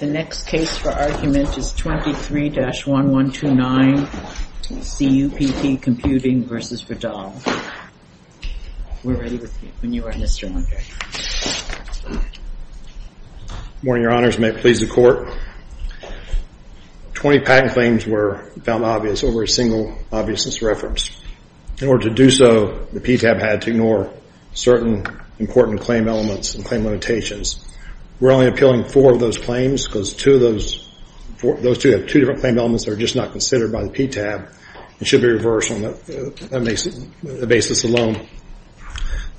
The next case for argument is 23-1129 CUPP Computing versus Vidal. We're ready with you when you are, Mr. Mundry. Good morning, Your Honors. May it please the Court. Twenty patent claims were found obvious over a single obviousness reference. In order to do so, the PTAB had to ignore certain important claim elements and claim limitations. We're only appealing four of those claims because those two have two different claim elements that are just not considered by the PTAB and should be reversed on that basis alone.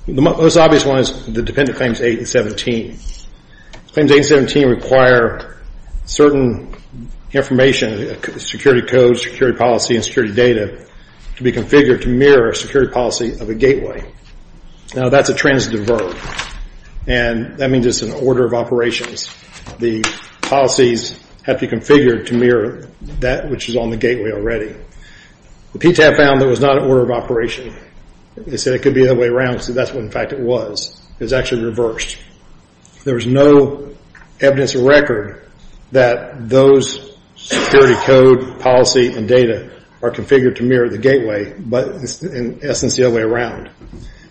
The most obvious one is the dependent claims 8 and 17. Claims 8 and 17 require certain information, security codes, security policy, and security data to be configured to mirror a security policy of a gateway. Now, that's a transitive verb, and that means it's an order of operations. The policies have to be configured to mirror that which is on the gateway already. The PTAB found that it was not an order of operation. They said it could be the other way around, so that's what, in fact, it was. It was actually reversed. There was no evidence or record that those security code, policy, and data are configured to mirror the gateway, but it's, in essence, the other way around.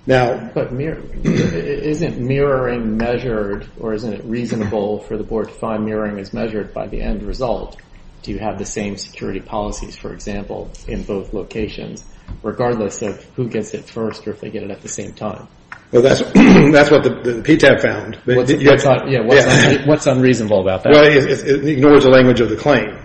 But isn't mirroring measured, or isn't it reasonable for the Board to find mirroring is measured by the end result? Do you have the same security policies, for example, in both locations, regardless of who gets it first or if they get it at the same time? Well, that's what the PTAB found. What's unreasonable about that? Well, it ignores the language of the claim.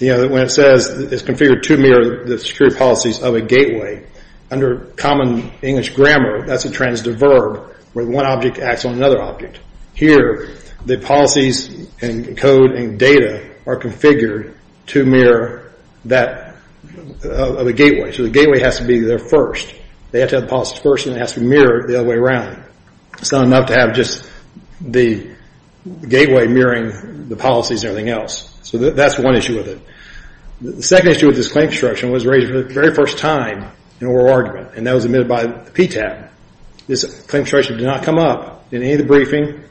When it says it's configured to mirror the security policies of a gateway, under common English grammar, that's a transitive verb where one object acts on another object. Here, the policies and code and data are configured to mirror that of a gateway, so the gateway has to be there first. They have to have the policies first, and it has to be mirrored the other way around. It's not enough to have just the gateway mirroring the policies and everything else, so that's one issue with it. The second issue with this claim construction was raised for the very first time in oral argument, and that was admitted by the PTAB. This claim construction did not come up in any of the briefing.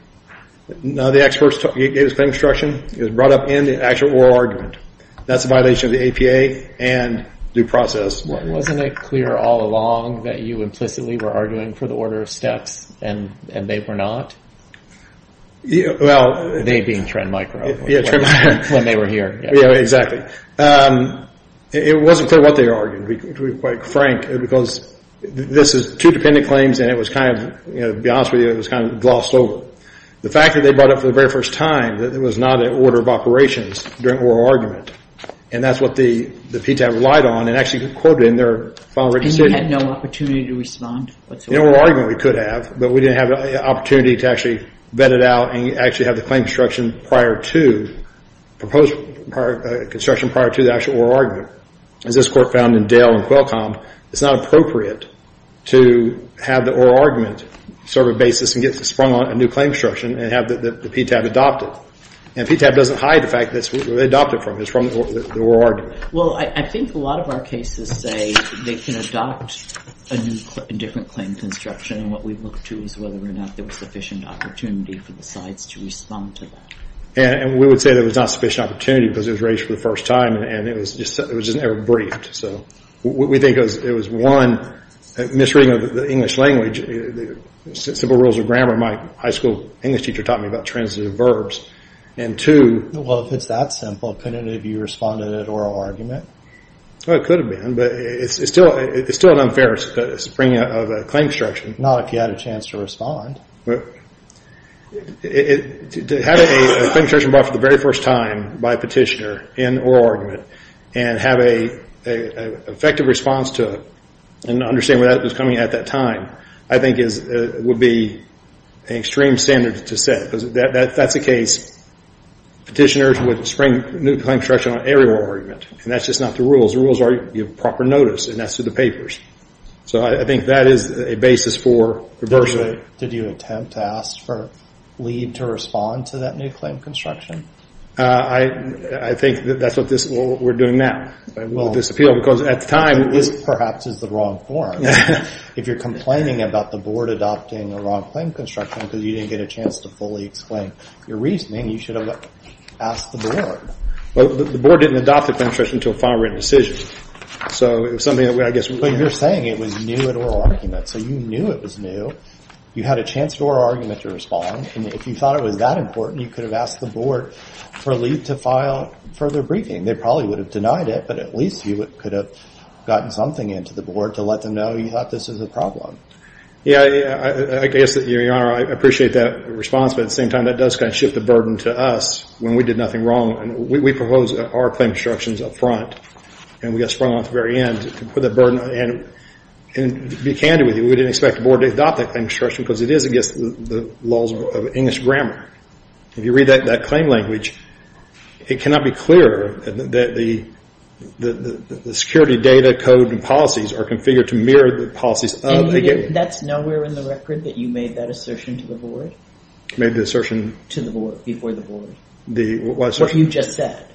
None of the experts gave this claim construction. It was brought up in the actual oral argument. That's a violation of the APA and due process. Wasn't it clear all along that you implicitly were arguing for the order of steps, and they were not? They being Trend Micro. Yeah, Trend Micro. When they were here. Yeah, exactly. It wasn't clear what they argued, to be quite frank, because this is two dependent claims, and to be honest with you, it was kind of glossed over. The fact that they brought up for the very first time that it was not an order of operations during oral argument, and that's what the PTAB relied on and actually quoted in their final written statement. And you had no opportunity to respond whatsoever? In oral argument, we could have, but we didn't have the opportunity to actually vet it out and actually have the claim construction prior to the actual oral argument. As this Court found in Dale and Qualcomm, it's not appropriate to have the oral argument serve a basis and get sprung on a new claim construction and have the PTAB adopt it. And PTAB doesn't hide the fact that they adopted it from the oral argument. Well, I think a lot of our cases say they can adopt a different claim construction, and what we look to is whether or not there was sufficient opportunity for the sites to respond to that. And we would say there was not sufficient opportunity because it was raised for the first time, and it was just never briefed. So we think it was, one, misreading of the English language, simple rules of grammar. My high school English teacher taught me about transitive verbs. And two— Well, if it's that simple, couldn't it have you responded at oral argument? Well, it could have been, but it's still an unfair subpoena of a claim construction. Not if you had a chance to respond. To have a claim construction brought for the very first time by a petitioner in oral argument and have an effective response to it and understand where that was coming at that time, I think would be an extreme standard to set because that's the case. Petitioners would spring a new claim construction on every oral argument, and that's just not the rules. The rules are you give proper notice, and that's through the papers. So I think that is a basis for reversal. Did you attempt to ask for a lead to respond to that new claim construction? I think that's what we're doing now. It will disappear because at the time— It perhaps is the wrong form. If you're complaining about the board adopting a wrong claim construction because you didn't get a chance to fully explain your reasoning, you should have asked the board. Well, the board didn't adopt a claim construction until a file-written decision. So it's something that I guess— But you're saying it was new at oral argument, so you knew it was new. You had a chance at oral argument to respond, and if you thought it was that important, you could have asked the board for a lead to file further briefing. They probably would have denied it, but at least you could have gotten something into the board to let them know you thought this was a problem. Yeah, I guess, Your Honor, I appreciate that response, but at the same time that does kind of shift the burden to us when we did nothing wrong. We proposed our claim constructions up front, and we got sprung on at the very end to put that burden— And to be candid with you, we didn't expect the board to adopt that claim construction because it is against the laws of English grammar. If you read that claim language, it cannot be clearer that the security data, code, and policies are configured to mirror the policies of the— And that's nowhere in the record that you made that assertion to the board? Made the assertion— To the board, before the board. What assertion? What you just said,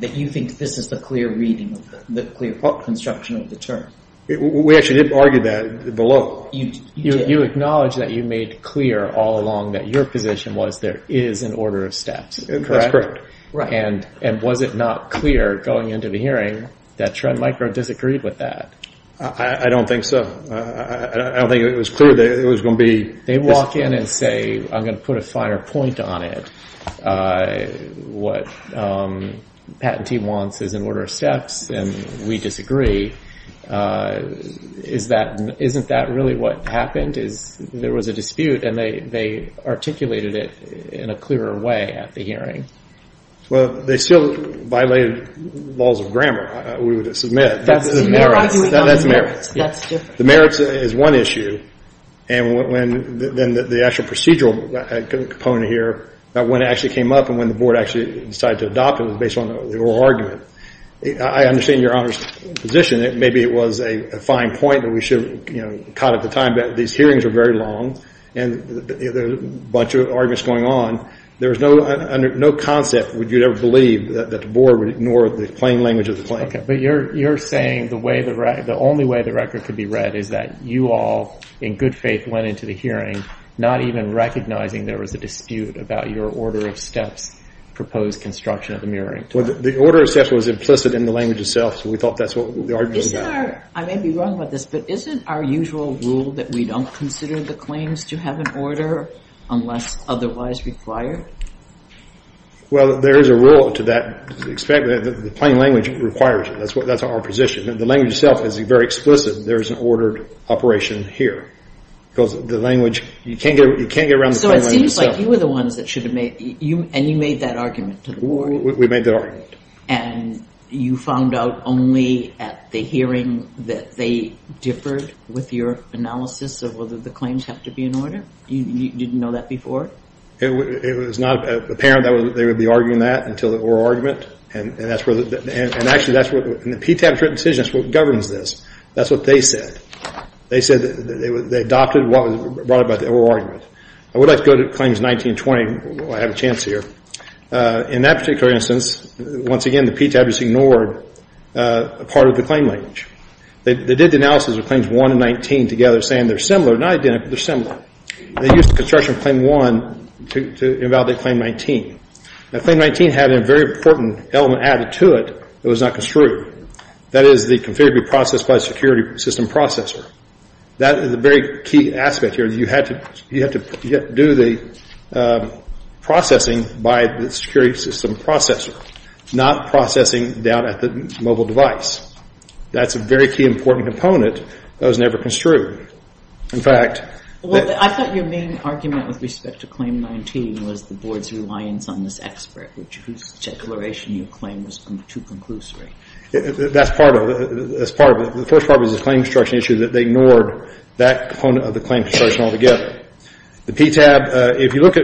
that you think this is the clear reading of the clear construction of the term. We actually did argue that below. You acknowledge that you made clear all along that your position was there is an order of steps, correct? That's correct. And was it not clear going into the hearing that Treadmicro disagreed with that? I don't think so. I don't think it was clear that it was going to be— They walk in and say, I'm going to put a finer point on it. What Patentee wants is an order of steps, and we disagree. Isn't that really what happened? There was a dispute, and they articulated it in a clearer way at the hearing. Well, they still violated laws of grammar, we would submit. That's merits. The merits is one issue, and the actual procedural component here, when it actually came up and when the board actually decided to adopt it was based on the oral argument. I understand your Honor's position that maybe it was a fine point that we should cut at the time, but these hearings are very long, and there's a bunch of arguments going on. There was no concept, would you ever believe, that the board would ignore the plain language of the claim. But you're saying the only way the record could be read is that you all, in good faith, went into the hearing not even recognizing there was a dispute about your order of steps proposed construction of the mirroring term. Well, the order of steps was implicit in the language itself, so we thought that's what the argument was about. I may be wrong about this, but isn't our usual rule that we don't consider the claims to have an order unless otherwise required? Well, there is a rule to that. The plain language requires it. That's our position. The language itself is very explicit. There is an ordered operation here, because the language, you can't get around the plain language itself. So it seems like you were the ones that should have made, and you made that argument to the board. We made that argument. And you found out only at the hearing that they differed with your analysis of whether the claims have to be in order? You didn't know that before? It was not apparent that they would be arguing that until the oral argument, and actually that's what, in the PTAB's written decision, that's what governs this. That's what they said. They said that they adopted what was brought about by the oral argument. I would like to go to Claims 1920 while I have a chance here. In that particular instance, once again, the PTAB just ignored part of the claim language. They did the analysis of Claims 1 and 19 together, saying they're similar, not identical, but they're similar. They used the construction of Claim 1 to invalidate Claim 19. Now, Claim 19 had a very important element added to it that was not construed. That is the configurably processed by a security system processor. That is a very key aspect here. You had to do the processing by the security system processor, not processing down at the mobile device. That's a very key, important component that was never construed. In fact, that — Well, I thought your main argument with respect to Claim 19 was the Board's reliance on this expert, whose declaration you claimed was too conclusory. That's part of it. That's part of it. The first part was the claim construction issue that they ignored that component of the claim construction altogether. The PTAB, if you look at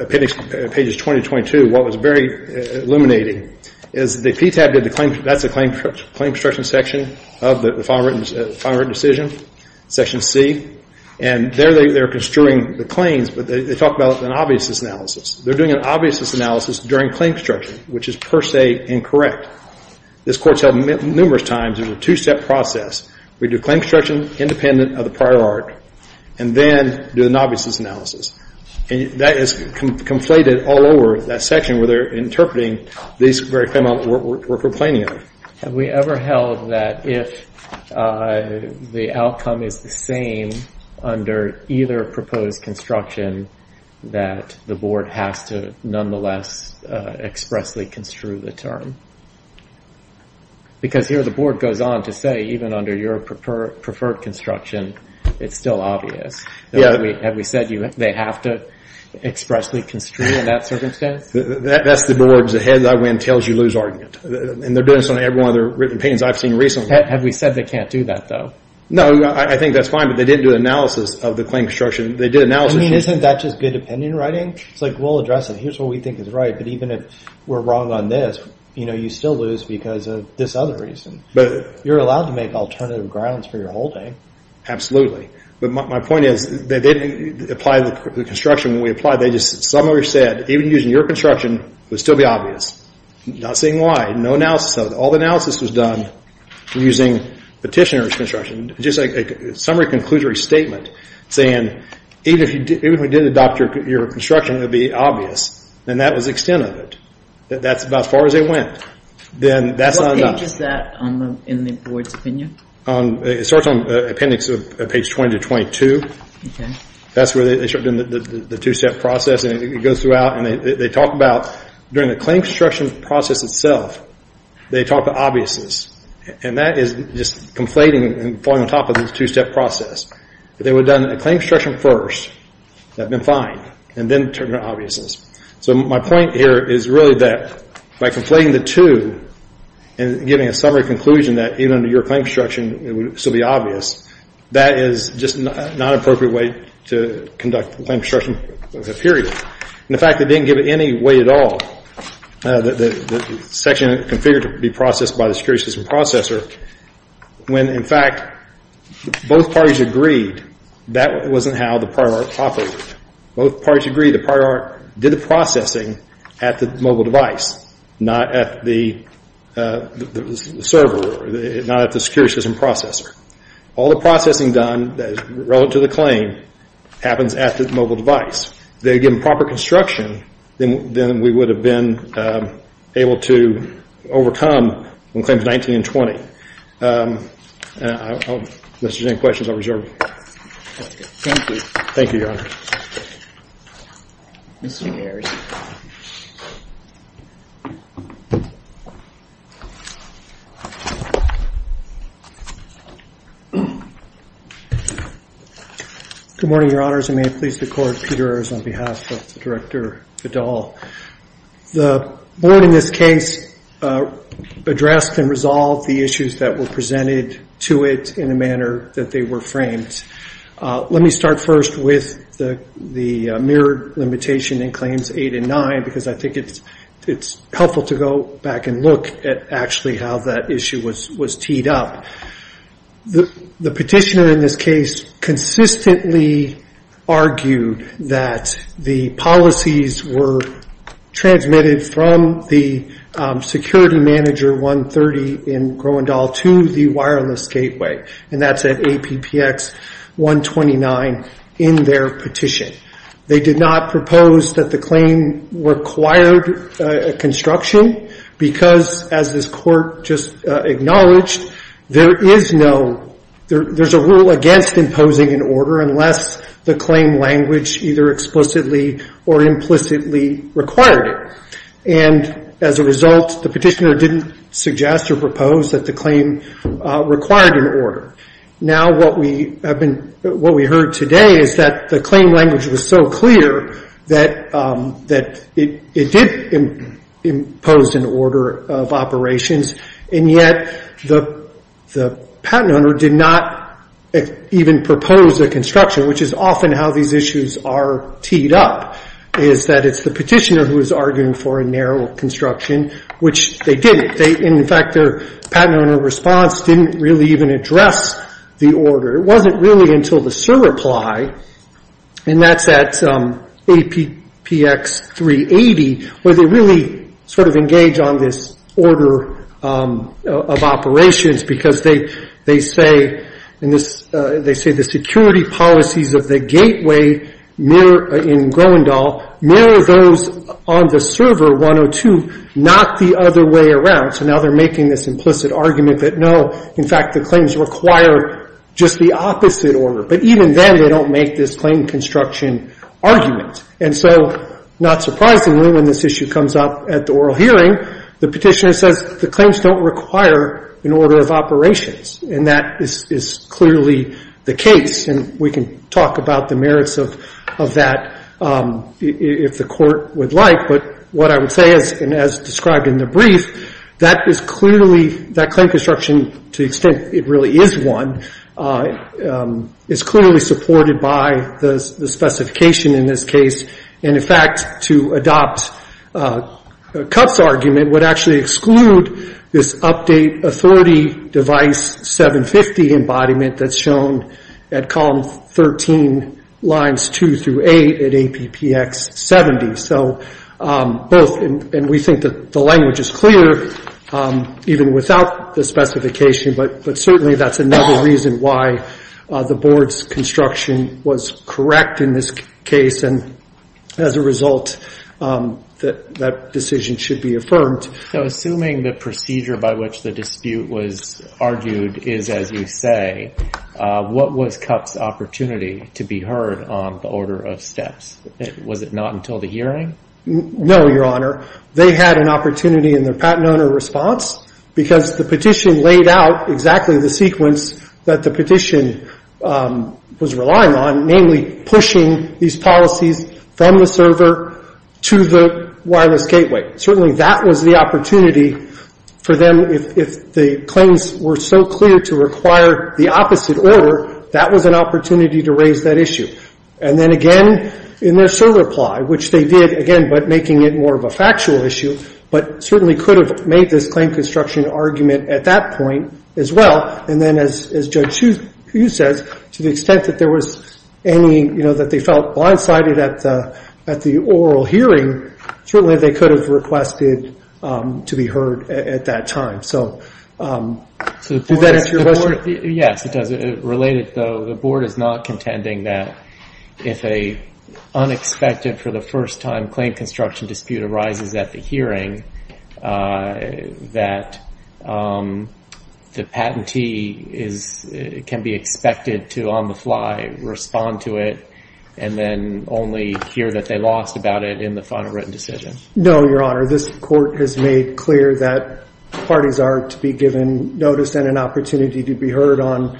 appendix pages 20 to 22, what was very illuminating is the PTAB did the claim — that's the claim construction section of the final written decision, section C. And there they're construing the claims, but they talk about an obviousness analysis. They're doing an obviousness analysis during claim construction, which is per se incorrect. This court's held numerous times it was a two-step process. We do claim construction independent of the prior art, and then do an obviousness analysis. And that is conflated all over that section where they're interpreting these very claims we're complaining of. Have we ever held that if the outcome is the same under either proposed construction, that the Board has to nonetheless expressly construe the term? Because here the Board goes on to say even under your preferred construction, it's still obvious. Have we said they have to expressly construe in that circumstance? That's the Board's head I win, tails you lose argument. And they're doing this on every one of the written opinions I've seen recently. Have we said they can't do that, though? No, I think that's fine, but they didn't do analysis of the claim construction. They did analysis — I mean, isn't that just good opinion writing? It's like we'll address it, here's what we think is right, but even if we're wrong on this, you still lose because of this other reason. You're allowed to make alternative grounds for your holding. Absolutely. But my point is that they didn't apply the construction that we applied. They just summary said even using your construction, it would still be obvious. Not saying why. No analysis of it. All the analysis was done using petitioner's construction. Just a summary conclusory statement saying even if we didn't adopt your construction, it would be obvious. And that was the extent of it. That's about as far as they went. Then that's not enough. What page is that in the Board's opinion? It starts on appendix page 20 to 22. That's where they start doing the two-step process. It goes throughout and they talk about during the claim construction process itself, they talk about obviousness. And that is just conflating and falling on top of this two-step process. If they would have done a claim construction first, that would have been fine. And then turn to obviousness. So my point here is really that by conflating the two and giving a summary conclusion that even under your claim construction, it would still be obvious, that is just not an appropriate way to conduct the claim construction period. And, in fact, they didn't give it any way at all. The section configured to be processed by the security system processor, when, in fact, both parties agreed, that wasn't how the prior art operated. Both parties agreed the prior art did the processing at the mobile device, not at the server, not at the security system processor. All the processing done relative to the claim happens at the mobile device. If they had given proper construction, then we would have been able to overcome when claims 19 and 20. Unless there's any questions, I'll reserve. Thank you. Thank you. Thank you, Your Honor. Mr. Ayers. Good morning, Your Honors. And may it please the Court, Peter Ayers on behalf of Director Vidal. The board in this case addressed and resolved the issues that were presented to it in a manner that they were framed. Let me start first with the mirrored limitation in claims 8 and 9, because I think it's helpful to go back and look at actually how that issue was teed up. The petitioner in this case consistently argued that the policies were transmitted from the security manager 130 in Groendel to the wireless gateway, and that's at APPX 129 in their petition. They did not propose that the claim required construction, because, as this Court just acknowledged, there is no – there's a rule against imposing an order unless the claim language either explicitly or implicitly required it. And as a result, the petitioner didn't suggest or propose that the claim required an order. Now, what we heard today is that the claim language was so clear that it did impose an order of operations, and yet the patent owner did not even propose a construction, which is often how these issues are teed up, is that it's the petitioner who is arguing for a narrow construction, which they didn't. In fact, their patent owner response didn't really even address the order. It wasn't really until the server ply, and that's at APPX 380, where they really sort of engage on this order of operations, because they say the security policies of the gateway in Groendel mirror those on the server 102, not the other way around. So now they're making this implicit argument that, no, in fact, the claims require just the opposite order. But even then, they don't make this claim construction argument. And so, not surprisingly, when this issue comes up at the oral hearing, the petitioner says the claims don't require an order of operations, and that is clearly the case. And we can talk about the merits of that if the Court would like. But what I would say is, and as described in the brief, that is clearly, that claim construction, to the extent it really is one, is clearly supported by the specification in this case. And, in fact, to adopt Cupp's argument would actually exclude this update authority device 750 embodiment that's shown at column 13, lines 2 through 8 at APPX 70. So both, and we think that the language is clear, even without the specification, but certainly that's another reason why the Board's construction was correct in this case. And as a result, that decision should be affirmed. Now, assuming the procedure by which the dispute was argued is, as you say, what was Cupp's opportunity to be heard on the order of steps? Was it not until the hearing? No, Your Honor. They had an opportunity in their patent owner response, because the petition laid out exactly the sequence that the petition was relying on, namely pushing these policies from the server to the wireless gateway. Certainly that was the opportunity for them. If the claims were so clear to require the opposite order, that was an opportunity to raise that issue. And then, again, in their server reply, which they did, again, but making it more of a factual issue, but certainly could have made this claim construction argument at that point as well. And then, as Judge Hsu says, to the extent that there was any, you know, that they felt blindsided at the oral hearing, certainly they could have requested to be heard at that time. So does that answer your question? Yes, it does. Related, though, the Board is not contending that if an unexpected for the first time claim construction dispute arises at the hearing, that the patentee can be expected to on the fly respond to it and then only hear that they lost about it in the final written decision. No, Your Honor. This Court has made clear that parties are to be given notice and an opportunity to be heard on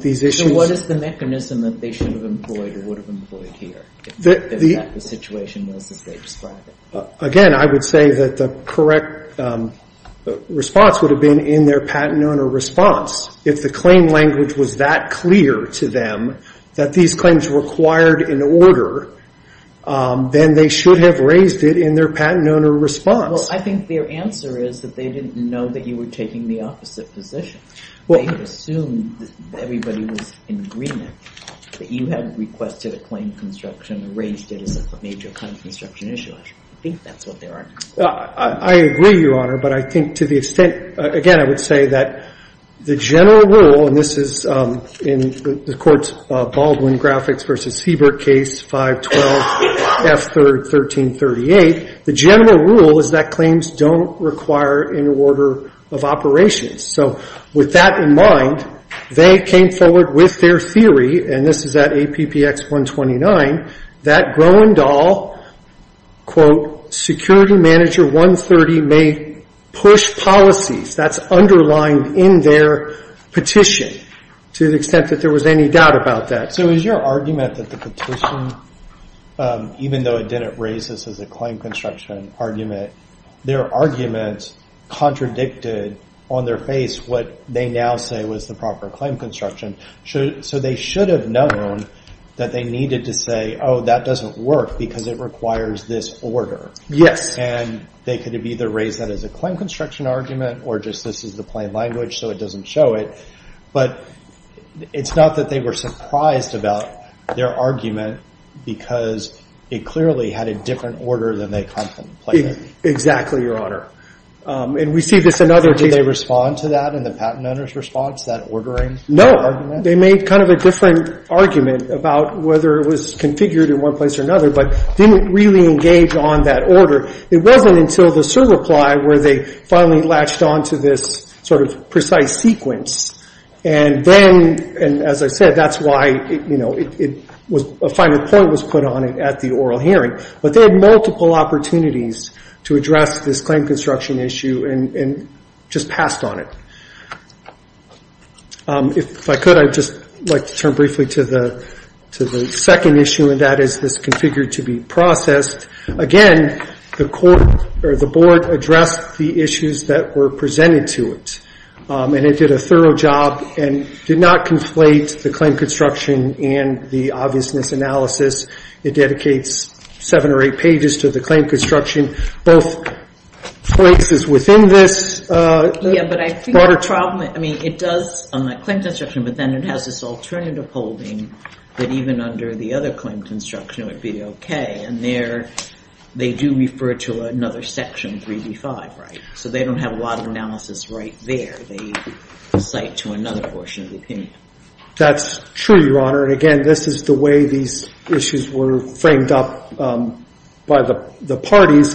these issues. So what is the mechanism that they should have employed or would have employed here, if that was the situation as they described it? Again, I would say that the correct response would have been in their patent owner response. If the claim language was that clear to them that these claims required an order, then they should have raised it in their patent owner response. Well, I think their answer is that they didn't know that you were taking the opposite position. They assumed that everybody was in agreement that you had requested a claim construction and raised it as a major claim construction issue. I think that's what their argument is. I agree, Your Honor. But I think to the extent, again, I would say that the general rule, and this is in the Court's Baldwin Graphics v. Siebert case 512F1338, the general rule is that claims don't require an order of operations. So with that in mind, they came forward with their theory, and this is at APPX 129, that Groenendahl, quote, security manager 130 may push policies. That's underlined in their petition to the extent that there was any doubt about that. So is your argument that the petition, even though it didn't raise this as a claim construction argument, their arguments contradicted on their face what they now say was the proper claim construction? So they should have known that they needed to say, oh, that doesn't work because it requires this order. Yes. And they could have either raised that as a claim construction argument or just this is the plain language so it doesn't show it. But it's not that they were surprised about their argument because it clearly had a different order than they contemplated. Exactly, Your Honor. And we see this in other cases. Did they respond to that in the patent owner's response, that ordering argument? No. They made kind of a different argument about whether it was configured in one place or another but didn't really engage on that order. It wasn't until the cert reply where they finally latched on to this sort of precise sequence. And then, as I said, that's why, you know, a final point was put on it at the oral hearing. But they had multiple opportunities to address this claim construction issue and just passed on it. If I could, I'd just like to turn briefly to the second issue, and that is this configured to be processed. Again, the court or the board addressed the issues that were presented to it. And it did a thorough job and did not conflate the claim construction and the obviousness analysis. It dedicates seven or eight pages to the claim construction. I mean, both places within this. Yeah, but I think the problem, I mean, it does on that claim construction, but then it has this alternative holding that even under the other claim construction it would be okay. And there they do refer to another section, 3D5, right? So they don't have a lot of analysis right there. They cite to another portion of the opinion. That's true, Your Honor. And, again, this is the way these issues were framed up by the parties,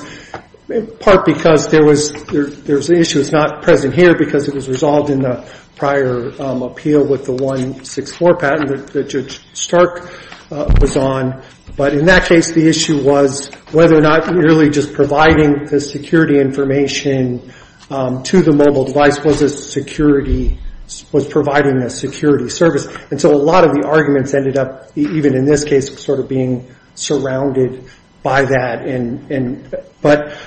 part because there was an issue that's not present here because it was resolved in the prior appeal with the 164 patent that Judge Stark was on. But in that case, the issue was whether or not merely just providing the security information to the mobile device was providing a security service. And so a lot of the arguments ended up, even in this case, sort of being surrounded by that. But,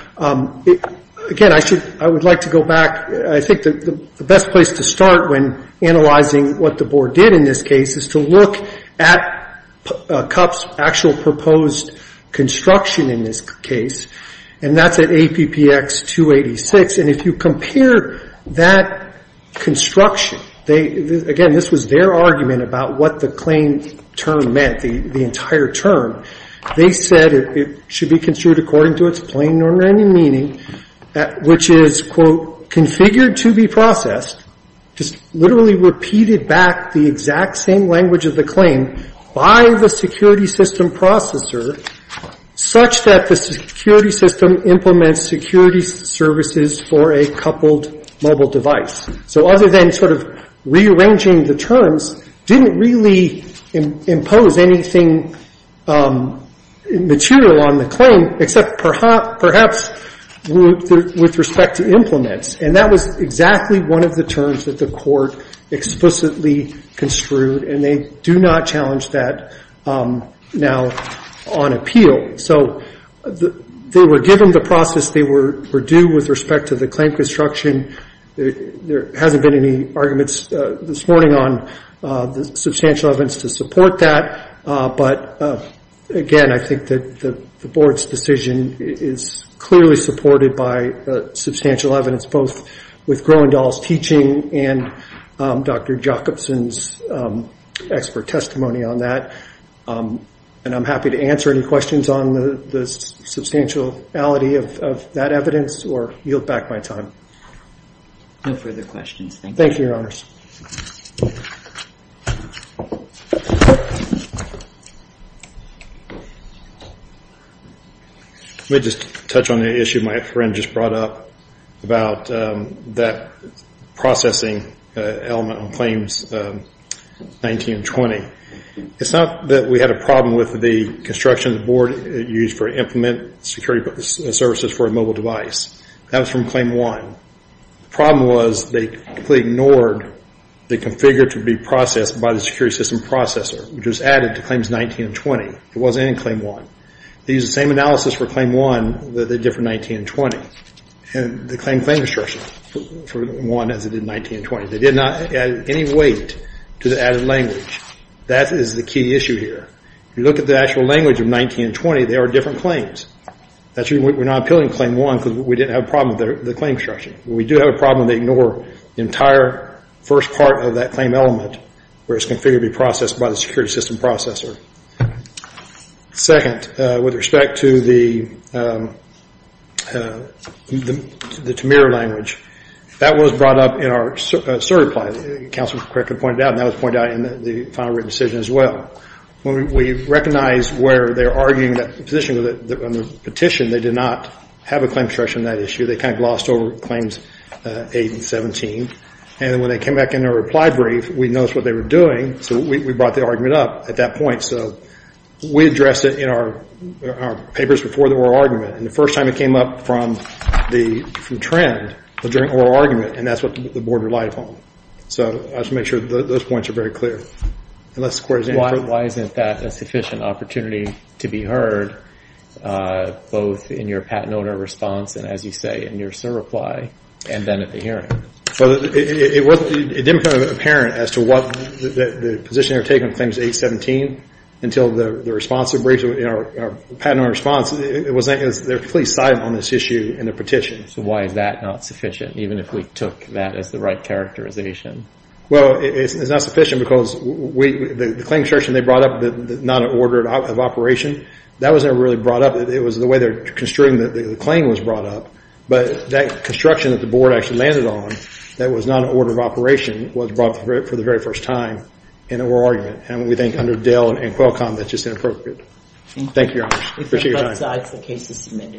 again, I would like to go back. I think the best place to start when analyzing what the board did in this case is to look at CUP's actual proposed construction in this case. And that's at APPX 286. And if you compare that construction, again, this was their argument about what the claim term meant, the entire term. They said it should be construed according to its plain or random meaning, which is, quote, configured to be processed, just literally repeated back the exact same language of the claim by the security system processor, such that the security system implements security services for a coupled mobile device. So other than sort of rearranging the terms, didn't really impose anything material on the claim, except perhaps with respect to implements. And that was exactly one of the terms that the Court explicitly construed, and they do not challenge that now on appeal. So they were given the process they were due with respect to the claim construction. There hasn't been any arguments this morning on the substantial evidence to support that. But, again, I think that the board's decision is clearly supported by substantial evidence, both with Groendahl's teaching and Dr. Jacobson's expert testimony on that. And I'm happy to answer any questions on the substantiality of that evidence or yield back my time. No further questions. Thank you, Your Honors. Let me just touch on the issue my friend just brought up about that processing element on Claims 19 and 20. It's not that we had a problem with the construction the board used for implementing security services for a mobile device. That was from Claim 1. The problem was they completely ignored the configure to be processed by the security system processor, which was added to Claims 19 and 20. It wasn't in Claim 1. They used the same analysis for Claim 1, but a different 19 and 20. And they claimed claim construction for 1 as they did 19 and 20. They did not add any weight to the added language. That is the key issue here. If you look at the actual language of 19 and 20, they are different claims. We're not appealing to Claim 1 because we didn't have a problem with the claim structure. We do have a problem. They ignore the entire first part of that claim element where it's configured to be processed by the security system processor. Second, with respect to the Tamir language, that was brought up in our certified. Counselor correctly pointed out, and that was pointed out in the final written decision as well. When we recognized where they were arguing that position on the petition, they did not have a claim structure on that issue. They kind of glossed over Claims 8 and 17. And when they came back in their reply brief, we noticed what they were doing. So we brought the argument up at that point. So we addressed it in our papers before the oral argument. And the first time it came up from the trend was during oral argument, and that's what the board relied upon. So I just want to make sure those points are very clear. Why isn't that a sufficient opportunity to be heard, both in your patent owner response and, as you say, in your CER reply, and then at the hearing? Well, it didn't become apparent as to what the position they were taking on Claims 8 and 17, until the responsive briefs in our patent owner response. It wasn't because they were completely silent on this issue in the petition. So why is that not sufficient, even if we took that as the right characterization? Well, it's not sufficient because the claim structure they brought up, the non-order of operation, that wasn't really brought up. It was the way they were construing the claim was brought up. But that construction that the board actually landed on that was non-order of operation was brought up for the very first time in oral argument. And we think under Dell and Qualcomm, that's just inappropriate. Thank you, Your Honor. Thank you.